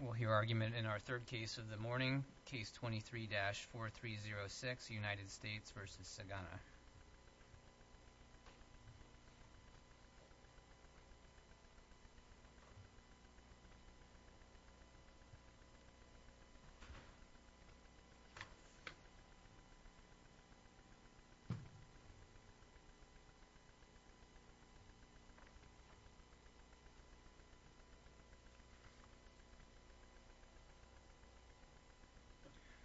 We'll hear argument in our third case of the morning, case 23-4306, United States v. Sagana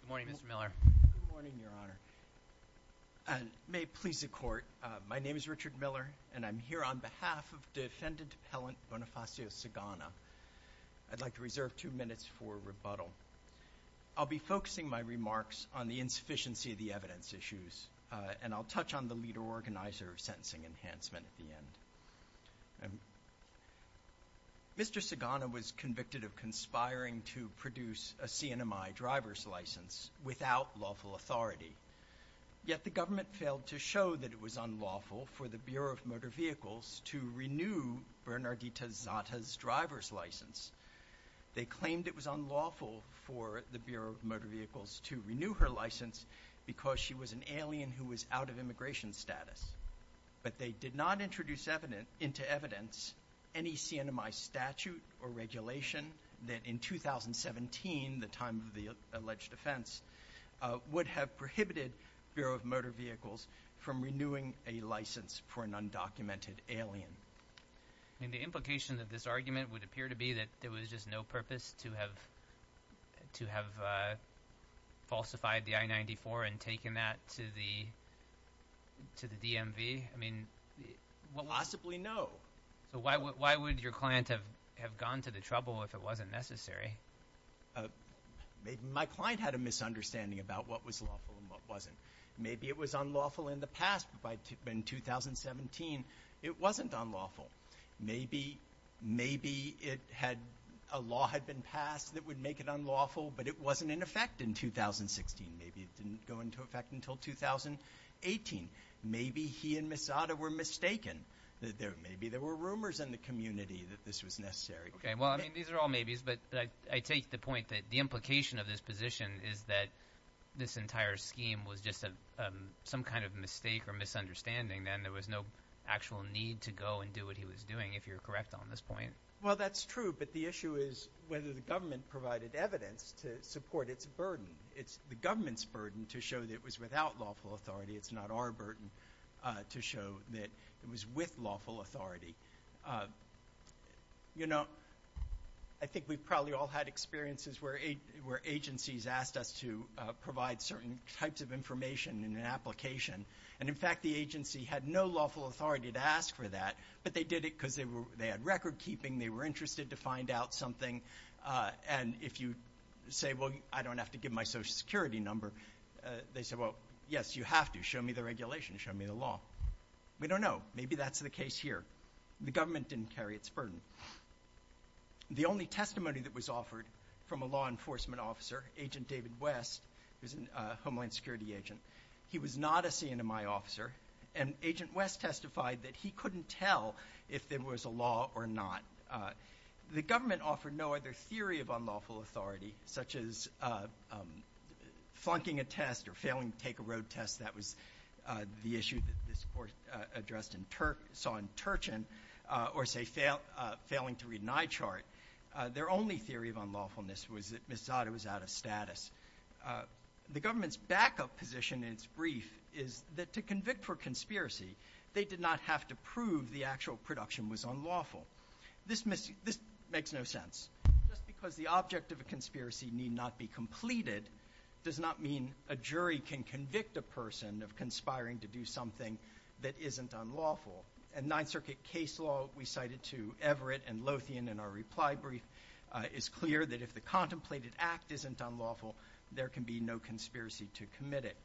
Good morning, Mr. Miller Good morning, Your Honor May it please the Court, my name is Richard Miller, and I'm here on behalf of defendant appellant Bonifacio Sagana. I'd like to reserve two minutes for rebuttal. I'll be focusing my remarks on the insufficiency of the evidence issues, and I'll touch on the leader organizer of sentencing enhancement at the end. Mr. Sagana was convicted of conspiring to produce a CNMI driver's license without lawful authority, yet the government failed to show that it was unlawful for the Bureau of Motor Vehicles to renew Bernardita Zata's driver's license. They claimed it was unlawful for the Bureau of Motor Vehicles to renew her license because she was an alien who was out of immigration status, but they did not introduce into evidence any CNMI statute or regulation that in 2017, the time of the alleged offense, would have prohibited Bureau of Motor Vehicles from renewing a license for an undocumented alien. The implication of this argument would appear to be that there was just no purpose to have falsified the I-94 and taken that to the DMV. Possibly no. So why would your client have gone to the trouble if it wasn't necessary? My client had a misunderstanding about what was lawful and what wasn't. Maybe it was unlawful in the past, but in 2017, it wasn't unlawful. Maybe it had a law had been passed that would make it unlawful, but it wasn't in effect in 2016. Maybe it didn't go into effect until 2018. Maybe he and Ms. Zata were mistaken. Maybe there were rumors in the community that this was necessary. Okay. Well, I mean, these are all maybes, but I take the point that the implication of this position is that this entire scheme was just some kind of mistake or misunderstanding, and there was no actual need to go and do what he was doing, if you're correct on this point. Well, that's true, but the issue is whether the government provided evidence to support its burden. It's the government's burden to show that it was without lawful authority. It's not our burden to show that it was with lawful authority. I think we've probably all had experiences where agencies asked us to provide certain types of information in an application, and in fact, the agency had no lawful authority to ask for that, but they did it because they had record keeping. They were interested to find out something, and if you say, well, I don't have to give my social security number, they said, well, yes, you have to. Show me the regulation. Show me the law. We don't know. Maybe that's the case here. The government didn't carry its burden. The only testimony that was offered from a law enforcement officer, Agent David West, who's a Homeland Security agent, he was not a CNMI officer, and Agent West testified that he couldn't tell if there was a law or not. The government offered no other theory of unlawful authority, such as flunking a test or failing to take a road test. That was the issue that this court addressed and saw in Turchin, or say, failing to read an eye chart. Their only theory of unlawfulness was that Ms. Zada was out of status. The government's backup position in its brief is that to convict for conspiracy, they did not have to prove the actual production was unlawful. This makes no sense. Just because the object of a conspiracy need not be completed does not mean a jury can convict a person of conspiring to do something that isn't unlawful. In Ninth Circuit case law, we cited to Everett and Lothian in our reply brief, it's clear that if the contemplated act isn't unlawful, there can be no conspiracy to commit it.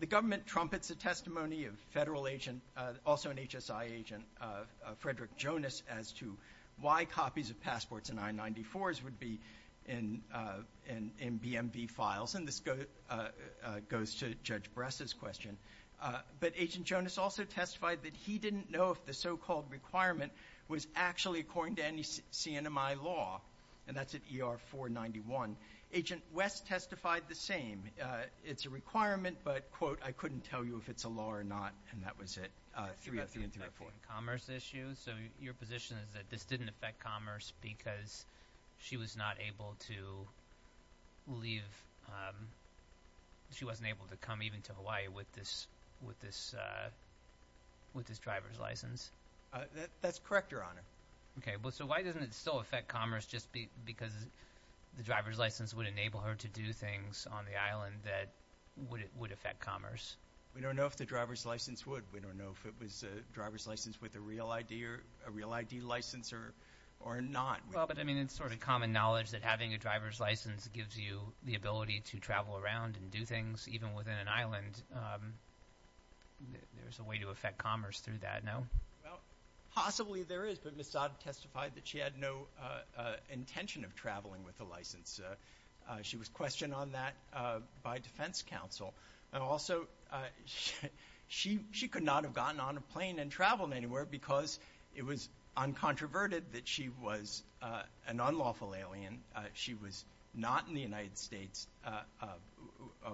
The government trumpets a testimony of federal agent, also an HSI agent, Frederick Jonas, as to why copies of passports and I-94s would be in BMV files, and this goes to Judge Bress's question. But Agent Jonas also testified that he didn't know if the so-called requirement was actually according to any CNMI law, and that's at ER 491. Agent West testified the same. It's a requirement, but quote, I couldn't tell you if it's a law or not, and that was it. Commerce issue, so your position is that this didn't affect commerce because she was not able to leave, she wasn't able to come even to Hawaii with this driver's license? That's correct, Your Honor. Okay, well, so why doesn't it still affect commerce just because the driver's license would enable her to do things on the island that would affect commerce? We don't know if the driver's license would. We don't know if it was a driver's license with a real ID license or not. Well, but I mean, it's sort of common knowledge that having a driver's license gives you the ability to travel around and do things even within an island. There's a possibility to affect commerce through that, no? Well, possibly there is, but Ms. Saad testified that she had no intention of traveling with a license. She was questioned on that by defense counsel, and also she could not have gotten on a plane and traveled anywhere because it was uncontroverted that she was an unlawful alien. She was not in the United States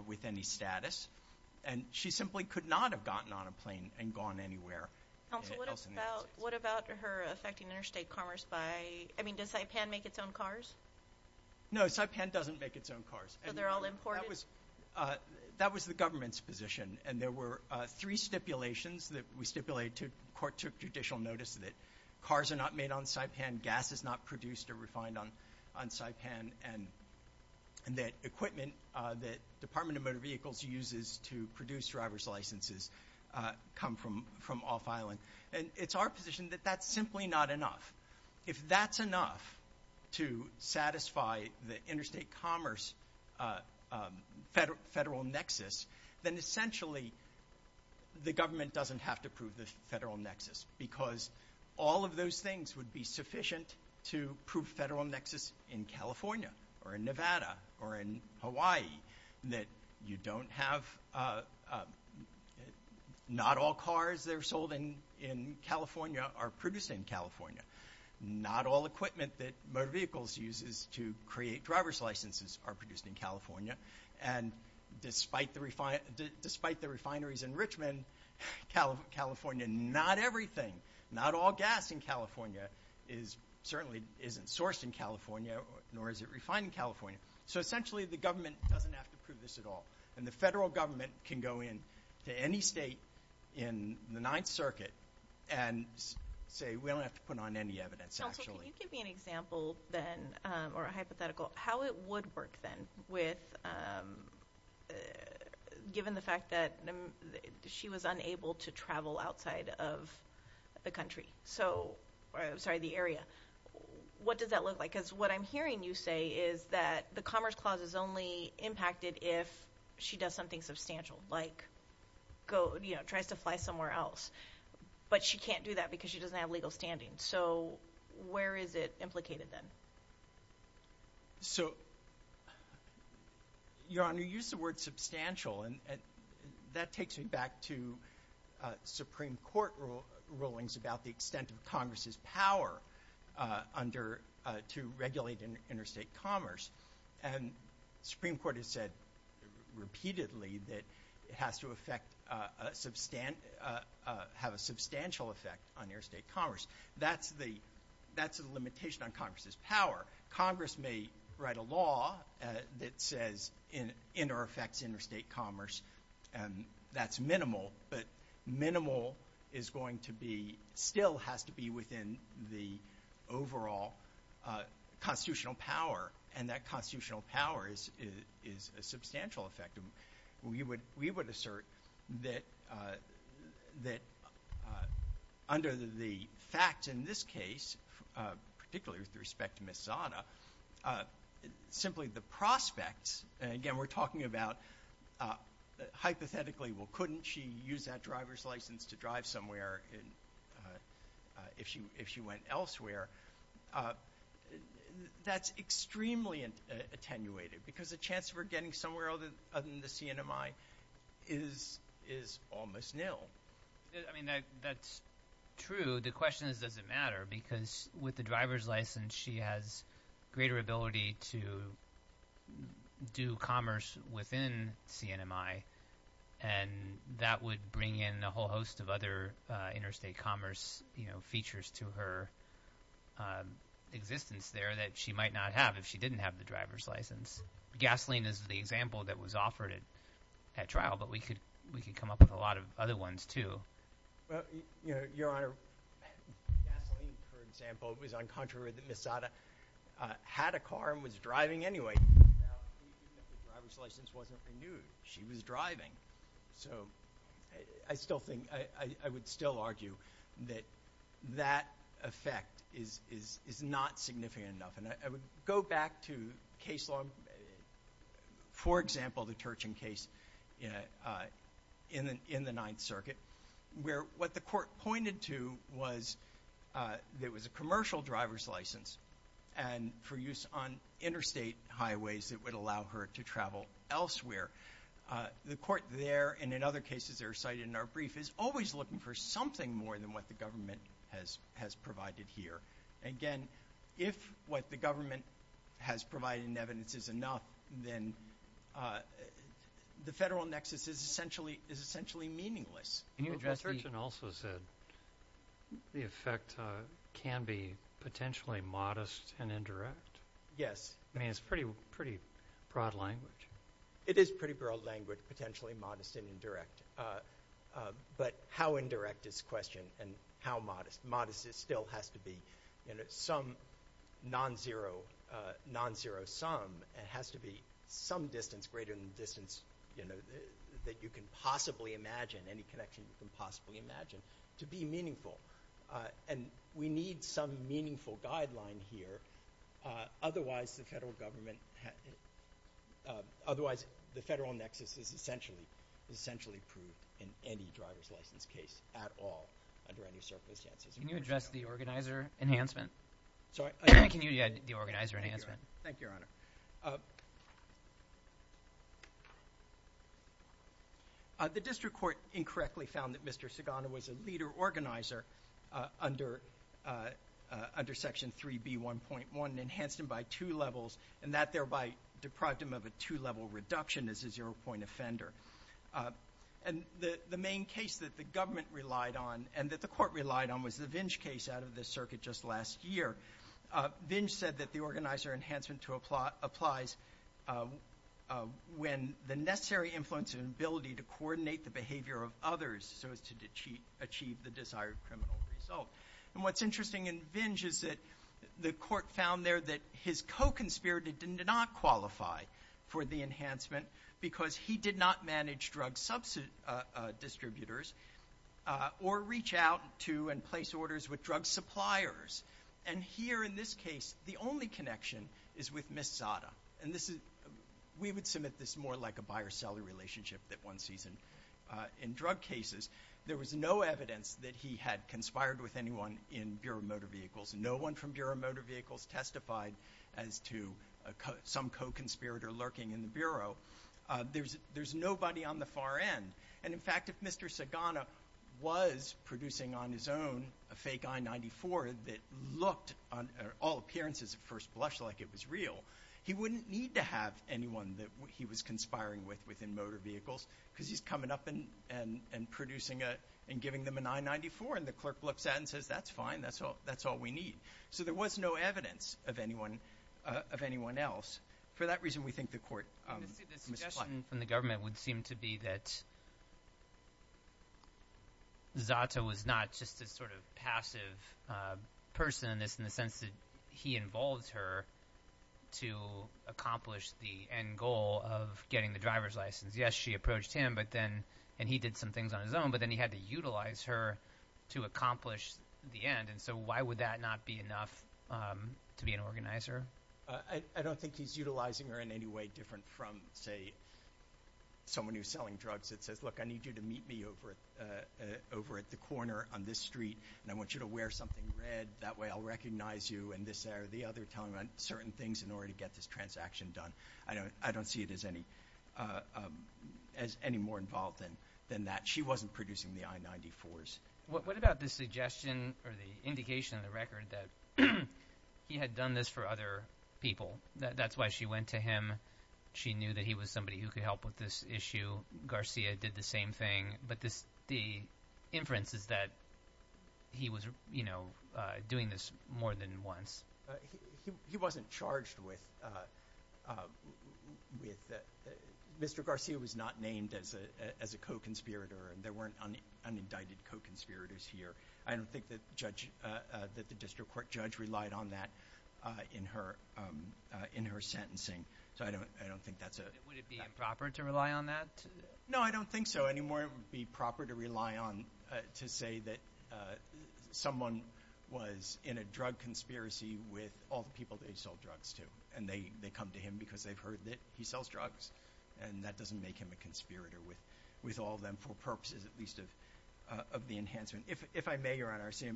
with any status, and she simply could not have gotten on a plane and gone anywhere else in the United States. What about her affecting interstate commerce by, I mean, does Saipan make its own cars? No, Saipan doesn't make its own cars. So they're all imported? That was the government's position, and there were three stipulations that we stipulated. Court took judicial notice that cars are not made on Saipan, gas is not produced or refined on Saipan, and that equipment that Department of Motor Vehicles uses to produce driver's licenses come from off-island. And it's our position that that's simply not enough. If that's enough to satisfy the interstate commerce federal nexus, then essentially the government doesn't have to prove the federal nexus, because all of those things would be sufficient to prove federal nexus in California, or in Nevada, or in Hawaii, that you don't have, not all cars that are sold in in California are produced in California, not all equipment that motor vehicles uses to create driver's licenses are produced in California, and despite the refineries in Richmond, California, not everything, not all gas in California certainly isn't sourced in California, nor is it refined in California. So essentially the government doesn't have to prove this at all, and the federal government can go in to any state in the Ninth Circuit and say we don't have to put on any evidence actually. Can you give me an example then, or a hypothetical, how it would work then with, given the fact that she was unable to travel outside of the country, so, I'm sorry, the area, what does that look like? Because what I'm hearing you say is that the Commerce Clause is only impacted if she does something substantial, like go, you know, tries to fly somewhere else, but she can't do that because she doesn't have legal standing. So where is it implicated then? So, Your Honor, you use the word substantial, and that takes me back to Supreme Court rulings about the extent of Congress's power to regulate interstate commerce, and Supreme Court has said repeatedly that it has to have a substantial effect on interstate commerce. That's the limitation on Congress's power. Congress may write a law that says inter-effects interstate commerce, and that's minimal, but minimal is going to be, still has to be within the overall constitutional power, and that constitutional power is a substantial effect. We would assert that under the fact in this case, particularly with respect to Ms. Zanna, that simply the prospects, and again, we're talking about hypothetically, well, couldn't she use that driver's license to drive somewhere if she went elsewhere? That's extremely attenuated, because the chance of her getting somewhere other than the CNMI is almost nil. I mean, that's true. The question is, does it matter? Because with the driver's license, she has greater ability to do commerce within CNMI, and that would bring in a whole host of other interstate commerce features to her existence there that she might not have if she didn't have the driver's license. Gasoline is the example that was offered at trial, but we could come up with a lot of other ones, too. Your Honor, gasoline, for example, was on contrary that Ms. Zanna had a car and was driving anyway. Now, even if the driver's license wasn't renewed, she was driving, so I would still argue that that effect is not significant enough, and I would go back to case law. For example, the Turchin case in the Ninth Circuit, where what the court pointed to was that it was a commercial driver's license and for use on interstate highways that would allow her to travel elsewhere. The court there, and in other cases that are cited in our brief, is always looking for something more than what the government has provided here. Again, if what the government has provided in evidence is enough, then the federal nexus is essentially meaningless. Can you address the... Well, Mr. Turchin also said the effect can be potentially modest and indirect. Yes. I mean, it's pretty broad language. It is pretty broad language, potentially modest and indirect, but how indirect is and how modest? Modesty still has to be some non-zero sum. It has to be some distance greater than the distance that you can possibly imagine, any connection you can possibly imagine, to be meaningful. We need some meaningful guideline here. Otherwise, the federal nexus is essentially proved in any driver's license case at all under any circumstances. Can you address the organizer enhancement? Sorry? Can you address the organizer enhancement? Thank you, Your Honor. The district court incorrectly found that Mr. Sigano was a leader organizer under Section 3B1.1, enhanced him by two levels, and that thereby deprived him of a two-level reduction as a zero-point offender. And the main case that the government relied on and that the court relied on was the Vinge case out of the circuit just last year. Vinge said that the organizer enhancement applies when the necessary influence and ability to coordinate the behavior of others so as to achieve the desired criminal result. And what's interesting in Vinge is that the court found there that his co-conspirator did not qualify for the enhancement because he did not manage drug distributors or reach out to and place orders with drug suppliers. And here in this case, the only connection is with Ms. Zada. And we would submit this more like a buyer-seller relationship that one sees in drug cases. There was no evidence that he had conspired with anyone in Bureau of Motor Vehicles. No one from Bureau of Motor Vehicles testified as to some co-conspirator lurking in the Bureau. There's nobody on the far end. And in fact, if Mr. Sigano was producing on his own a fake I-94 that looked on all appearances at first blush like it was real, he wouldn't need to have anyone that he was conspiring with within Motor Vehicles because he's coming up and producing it and giving them an I-94. And the clerk looks at and says, that's fine. That's all we need. So there was no evidence of anyone else. For that reason, we think the court misplied. The suggestion from the government would seem to be that Zada was not just a sort of passive person in this in the sense that he involved her to accomplish the end goal of getting the driver's license. Yes, she approached him, but then, and he did some things on his own, but then he had to utilize her to accomplish the end. And so why would that not be enough to be an organizer? I don't think he's utilizing her in any way different from, say, someone who's selling drugs that says, look, I need you to meet me over at the corner on this street, and I want you to wear something red. That way I'll recognize you, and this, that, or the other, telling on certain things in order to get this transaction done. I don't see it as any more involved than that. She wasn't producing the I-94s. What about the suggestion or the indication of the record that he had done this for other people? That's why she went to him. She knew that he was somebody who could help with this issue. Garcia did the same thing. But the inference is that he was doing this more than once. He wasn't charged with, Mr. Garcia was not named as a co-conspirator, and there weren't unindicted co-conspirators here. I don't think that the district court judge relied on that in her sentencing. So I don't think that's a... Would it be improper to rely on that? No, I don't think so anymore. It would be proper to rely on, to say that someone was in a drug conspiracy with all the people that he sold drugs to, and they come to him because they've heard that he sells drugs, and that doesn't make him a conspirator with all them for purposes, at least of the enhancement. If I may, Your Honor, I see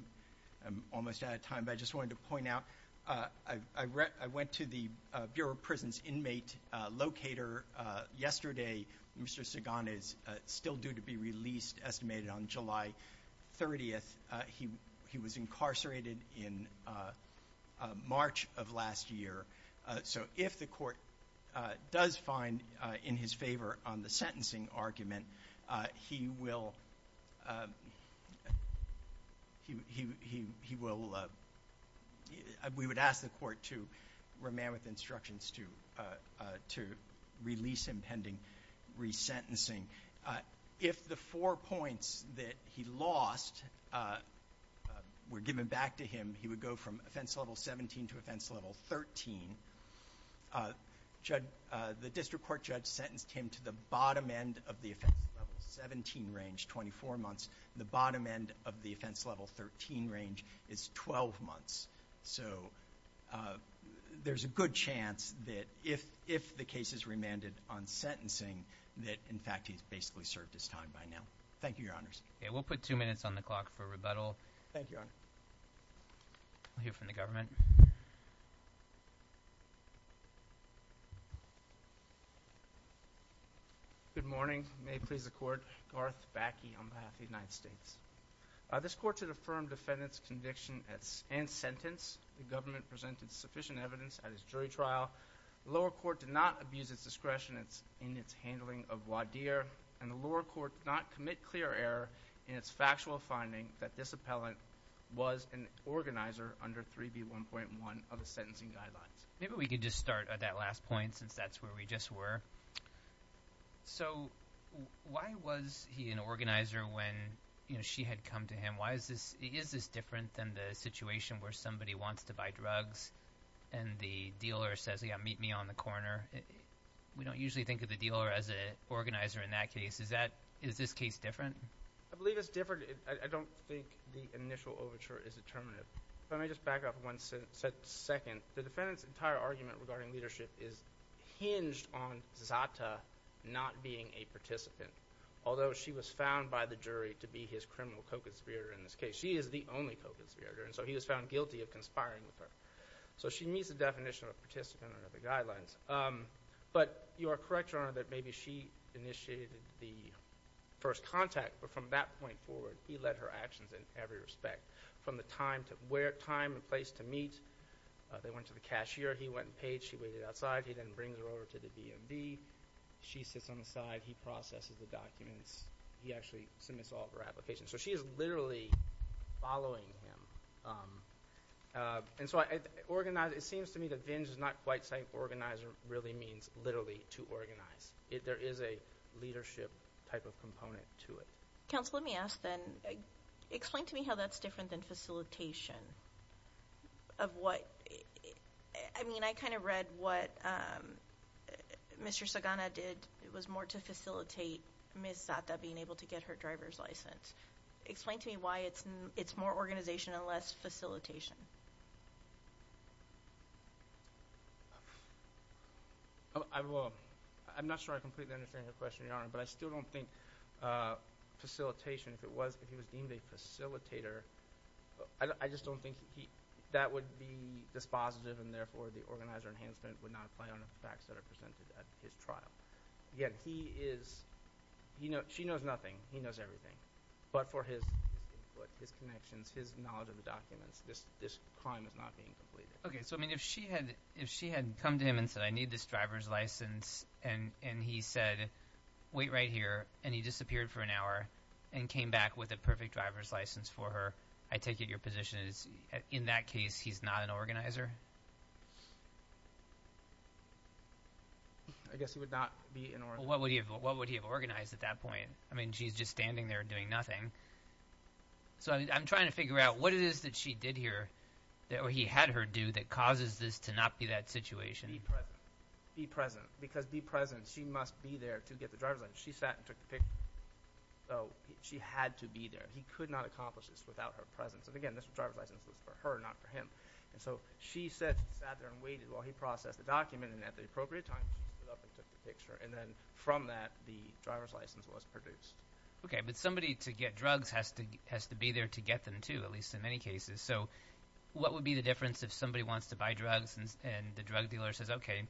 I'm almost out of time, but I just wanted to point out, I went to the Bureau of Prisons inmate locator yesterday. Mr. Sagan is still due to be released, estimated on July 30th. He was incarcerated in March of last year. So if the court does find in his favor on the sentencing argument, he will... We would ask the court to remain with instructions to release him pending resentencing. If the four points that he lost were given back to him, he would go from offense level 17 to offense level 13. The district court judge sentenced him to the bottom end of the offense level 17 range, 24 months. The bottom end of the offense level 13 range is 12 months. So there's a good chance that if the case is remanded on sentencing, that in fact he's basically served his time by now. Thank you, Your Honors. Okay, we'll put two minutes on the clock for rebuttal. Thank you, Your Honor. I'll hear from the government. Good morning. May it please the court. Garth Backe on behalf of the United States. This court should affirm defendant's conviction and sentence. The government presented sufficient evidence at its jury trial. The lower court did not abuse its discretion in its handling of Wadir, and the lower court did not commit clear error in its factual finding that this appellant was an organizer under 3B1.1 of the sentencing guidelines. Maybe we could just start at that last point since that's where we just were. So why was he an organizer when, you know, she had come to him? Why is this, is this different than the situation where somebody wants to buy drugs and the dealer says, yeah, meet me on the corner? We don't usually think of the dealer as an organizer in that case. Is that, is this case different? I believe it's different. I don't think the initial overture is determinative. Let me just back up one second. The defendant's entire argument regarding leadership is hinged on Zata not being a participant, although she was found by the jury to be his criminal co-conspirator in this case. She is the only co-conspirator, and so he was found guilty of conspiring with her. So she meets the definition of a participant under the guidelines. But you are correct, Your Honor, that maybe she initiated the first contact, but from that point forward, he led her actions in every respect, from the time to where, time and place to meet. They went to the cashier. He went and paid. She waited outside. He then brings her over to the DMV. She sits on the side. He processes the documents. He actually submits all of her applications. So she is literally following him. And so I organize, it seems to me that Vinge is not quite saying organizer really means literally to organize. There is a leadership type of component to it. Counsel, let me ask then, explain to me how that's different than facilitation of what, I mean, I kind of read what Mr. Sagana did. It was more to facilitate Ms. Zata being able to get her driver's license. Explain to me why it's more organization and less facilitation. I'm not sure I completely understand your question, Your Honor, but I still don't think facilitation, if he was deemed a facilitator, I just don't think that would be dispositive and therefore the organizer enhancement would not apply on the facts that are presented at his trial. Again, he is, she knows nothing. He knows everything. But for his connections, his knowledge of the documents, this crime is not being completed. Okay. So I mean, if she had come to him and said, I need this driver's license, and he said, wait right here, and he disappeared for an hour and came back with a perfect driver's license for her, I take it your position is in that case, he's not an organizer? I guess he would not be an organizer. What would he have organized at that point? I mean, she's just standing there doing nothing. So I'm trying to figure out what it is that she did here that he had her do that causes this to not be that situation. Be present. Because be present, she must be there to get the driver's license. She sat and took the picture. So she had to be there. He could not accomplish this without her presence. And again, this driver's license was for her, not for him. And so she sat there and waited while he processed the document. And at the appropriate time, she stood up and took the picture. And then from that, the driver's license was produced. Okay. But somebody to get drugs has to be there to get them too, at least in many cases. So what would be the difference if somebody wants to buy drugs and the drug dealer says, okay,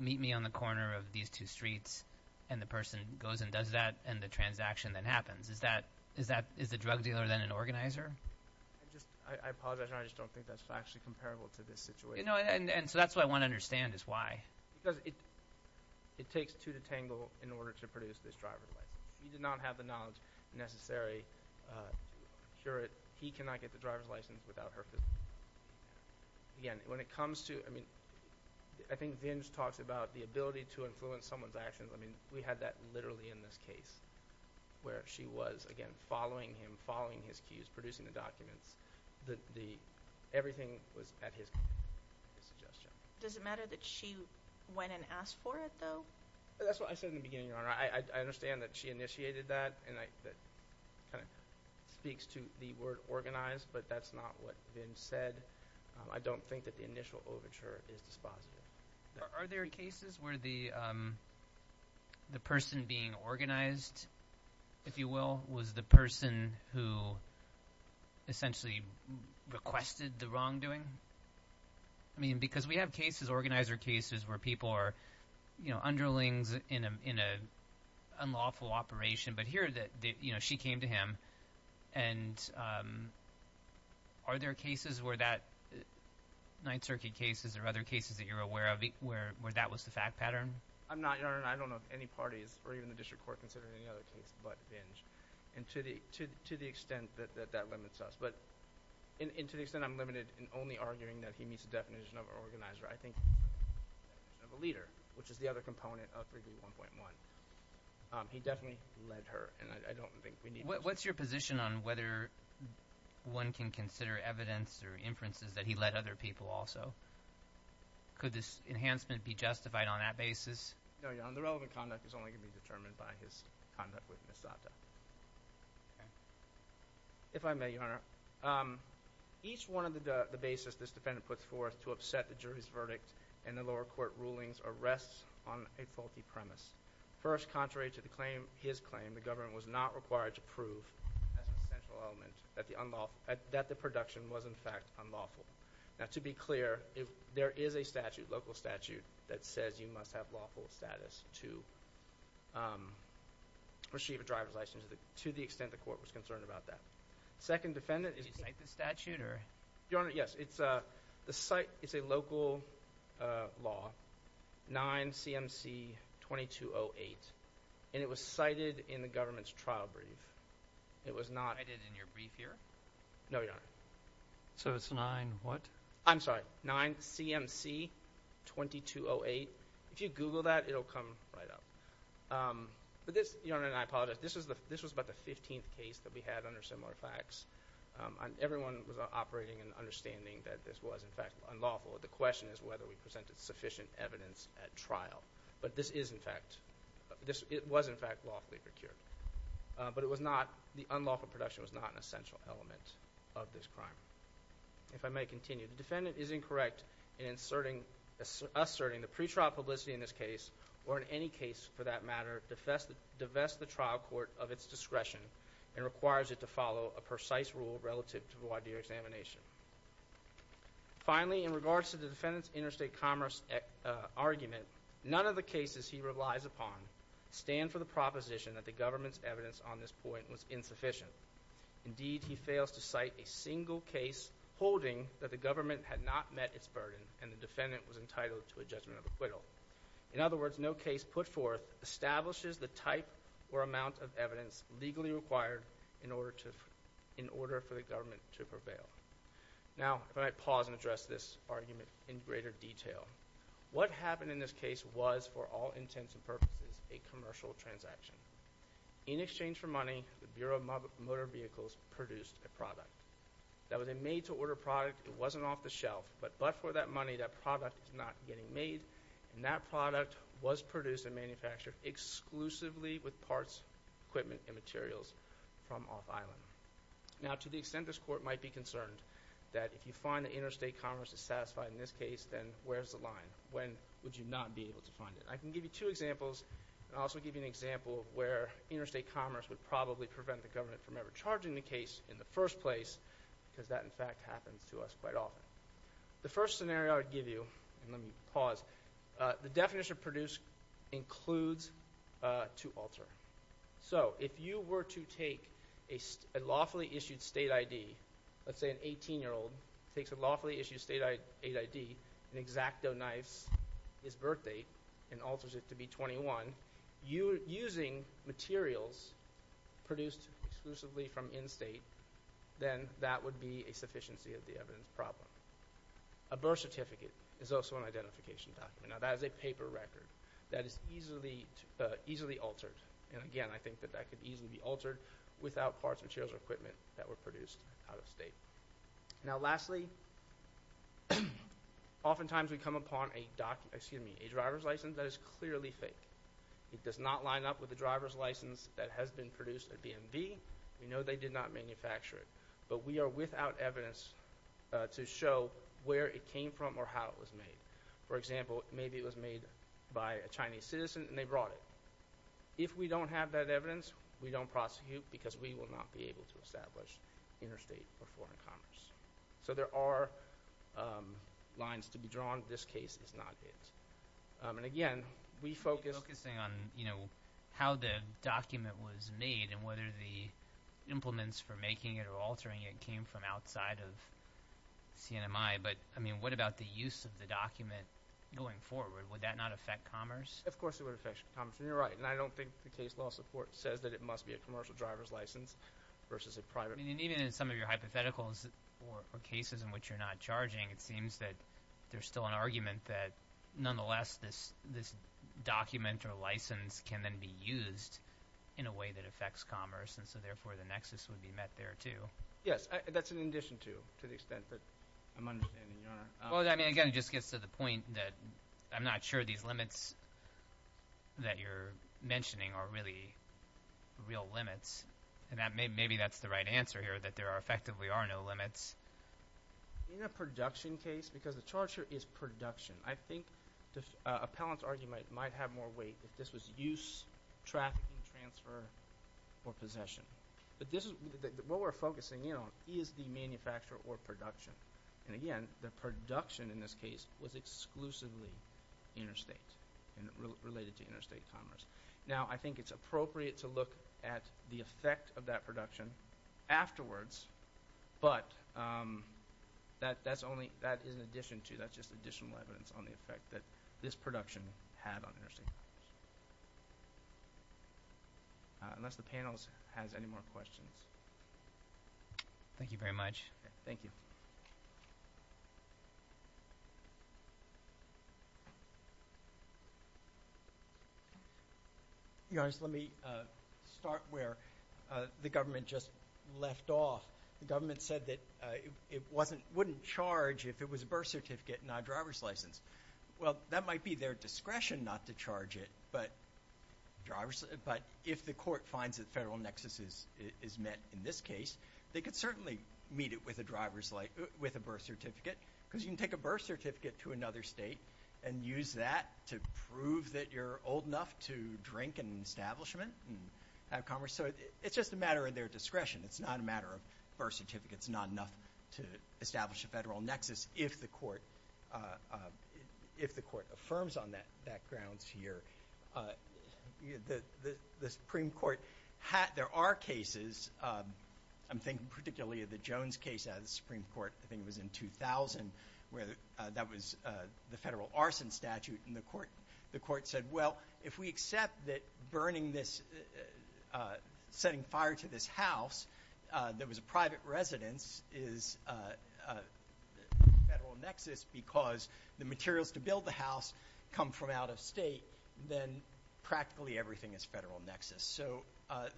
meet me on the corner of these two streets. And the person goes and does that. And the transaction then happens. Is that, is that, is the drug dealer then an organizer? I just, I apologize. I just don't think that's actually comparable to this situation. And so that's what I want to understand is why. Because it, it takes two to tangle in order to produce this driver's license. She did not have the knowledge necessary to procure it. He cannot get the driver's license without her presence. Again, when it comes to, I mean, I think Vinge talks about the ability to influence someone's actions. I mean, we had that literally in this case where she was, again, following him, following his cues, producing the documents. The, the, everything was at his, his suggestion. Does it matter that she went and asked for it though? That's what I said in the beginning, Your Honor. I, I understand that she initiated that and I, that kind of speaks to the word organized, but that's not what Vinge said. I don't think that the initial overture is dispositive. Are there cases where the, the person being organized, if you will, was the person who essentially requested the wrongdoing? I mean, because we have cases, organizer cases, where people are, you know, underlings in a, in a unlawful operation, but here that, you know, she came to him and are there cases where that, Ninth Circuit cases or other cases that you're aware of where, where that was the fact pattern? I'm not, Your Honor, and I don't know if any parties or even the district court considered any other case but Vinge, and to the, to, to the extent that, that, that limits us, but, and, and to the extent I'm limited in only arguing that he meets the definition of organizer, I think of a leader, which is the other component of 3D1.1. He definitely led her, and I, I don't think we need to. What, what's your position on whether one can consider evidence or inferences that he led other people also? Could this enhancement be justified on that basis? No, Your Honor, the relevant conduct is only going to be determined by his conduct with Ms. Sato. Okay. If I may, Your Honor, each one of the, the basis this defendant puts forth to upset the jury's verdict and the lower court rulings are rests on a faulty premise. First, contrary to the claim, his claim, the government was not required to prove as an essential element that the unlawful, that the production was, in fact, unlawful. Now, to be clear, if there is a statute, local statute, that says you must have lawful status to receive a driver's license, to the extent the court was concerned about that. Second defendant is… Did you cite the statute, or…? Your Honor, yes, it's a, the site, it's a local law, 9 CMC 2208, and it was cited in the government's trial brief. It was not… Cited in your brief here? No, Your Honor. So, it's 9 what? I'm sorry, 9 CMC 2208. If you google that, it'll come right up. But this, Your Honor, and I apologize, this is the, this was about the 15th case that we had under similar facts. Everyone was operating and understanding that this was, in fact, unlawful. The question is whether we presented sufficient evidence at trial, but this is, in fact, this, it was, in fact, lawfully procured. But it was not, the unlawful production was not an essential element of this crime. If I may continue, the defendant is incorrect in inserting, asserting the pre-trial publicity in this case, or in any case for that matter, divest, divest the trial court of its discretion and requires it to follow a precise rule relative to the wide-area examination. Finally, in regards to the defendant's interstate commerce, uh, argument, none of the cases he relies upon stand for the proposition that the government's evidence on this point was insufficient. Indeed, he fails to cite a single case holding that the government had not met its burden and the defendant was entitled to a judgment of acquittal. In other words, no case put forth establishes the type or amount of evidence legally required in order to, in order for the government to prevail. Now, if I might pause and address this argument in greater detail. What happened in this case was, for all intents and purposes, a commercial transaction. In exchange for money, the Bureau of Motor Vehicles produced a product. That was a made-to-order product. It wasn't off the shelf, but, but for that money, that product is not getting made, and that product was produced and manufactured exclusively with parts, equipment, and materials from off-island. Now, to the extent this Court might be concerned that if you find the interstate commerce is satisfied in this case, then where's the line? When would you not be able to find it? I can give you two examples, and also give you an example of where interstate commerce would probably prevent the government from ever charging the case in the first place, because that, in fact, happens to us quite often. The first scenario I would give you, and let me pause, uh, the definition of produce includes, uh, to alter. So, if you were to take a lawfully-issued state ID, let's say an 18-year-old takes a lawfully-issued state ID and exacto-knives his birth date and alters it to be 21, you, using materials produced exclusively from in-state, then that would be a sufficiency of the evidence problem. A birth certificate is also an identification document. Now, that is a paper record that is easily, uh, easily altered, and again, I think that that could easily be altered without parts, materials, or equipment that were produced out-of-state. Now, lastly, oftentimes we come upon a document, excuse me, a driver's license that is clearly fake. It does not line up with the driver's license that has been produced at DMV. We know they did not manufacture it, but we are without evidence, uh, to show where it came from or how it was made. For example, maybe it was made by a Chinese citizen, and they brought it. If we don't have that evidence, we don't prosecute, because we will not be able to establish interstate or foreign commerce. So, there are, um, lines to be drawn. This case is not it. And again, we focus on, you know, how the document was made and whether the implements for making it or altering it came from outside of CNMI. But, I mean, what about the use of the document going forward? Would that not affect commerce? Of course it would affect commerce, and you're right, and I don't think the case law support says that it must be a commercial driver's license versus a private. I mean, even in some of your hypotheticals or cases in which you're not charging, it seems that there's still an argument that nonetheless this, this document or license can then be used in a way that affects commerce, and so therefore the nexus would be met there, too. Yes, that's in addition to, to the extent that I'm understanding, Your Honor. Well, I mean, again, it just gets to the point that I'm not sure these limits that you're mentioning are really real limits, and that maybe that's the right answer here, that there are effectively are no limits. In a production case, because the charge here is production, I think the appellant's argument might have more weight if this was use, trafficking, transfer, or possession, but this is, what we're focusing in on is the manufacturer or production, and again, the production in this case was exclusively interstate and related to interstate commerce. Now, I think it's appropriate to look at the effect of that production afterwards, but that, that's only, that is in addition to, that's just additional evidence on the effect that this production had on interstate commerce. Unless the panel has any more questions. Thank you very much. Thank you. Your Honor, let me start where the government just left off. The government said that it wasn't, wouldn't charge if it was a birth certificate, not a driver's license. Well, that might be their discretion not to charge it, but if the court finds that federal nexus is met in this case, they could certainly meet it with a driver's, with a birth certificate, because you can take a birth certificate to another state and use that to prove that you're old enough to drink in an establishment and have commerce, so it's just a matter of their discretion. It's not a federal nexus if the court affirms on that grounds here. The Supreme Court, there are cases, I'm thinking particularly of the Jones case out of the Supreme Court, I think it was in 2000, where that was the federal arson statute and the court said, well, if we accept that burning this, setting fire to this house that was a private residence is a federal nexus because the materials to build the house come from out of state, then practically everything is federal nexus, so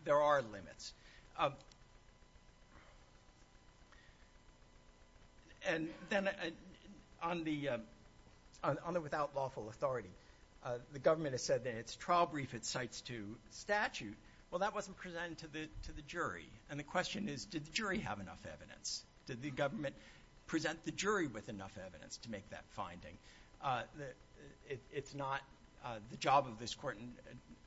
there are limits. And then on the, on the without lawful authority, the government has its trial brief, its cites to statute, well, that wasn't presented to the jury, and the question is, did the jury have enough evidence? Did the government present the jury with enough evidence to make that finding? It's not the job of this court, and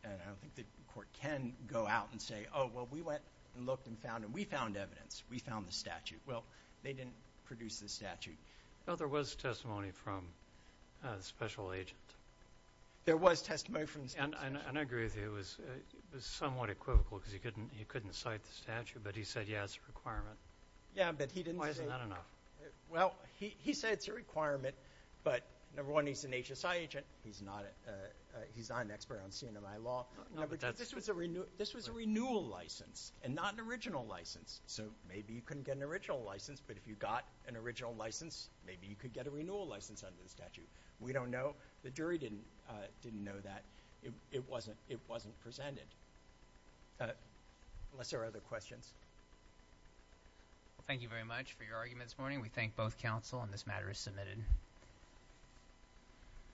I don't think the court can go out and say, oh, well, we went and looked and found, and we found evidence, we found the statute. Well, they didn't produce the statute. Well, there was testimony from a special agent. There was testimony from a special agent. And I agree with you, it was, it was somewhat equivocal because he couldn't, he couldn't cite the statute, but he said, yeah, it's a requirement. Yeah, but he didn't say. Why isn't that enough? Well, he, he said it's a requirement, but number one, he's an HSI agent, he's not a, he's not an expert on CNMI law. No, but that's. This was a renew, this was a renewal license and not an original license, so maybe you couldn't get an original license, but if you got an original license, maybe you could get a renewal license under the statute. We don't know. The jury didn't, didn't know that. It wasn't, it wasn't presented. Unless there are other questions. Thank you very much for your argument this morning. We thank both counsel, and this matter is submitted.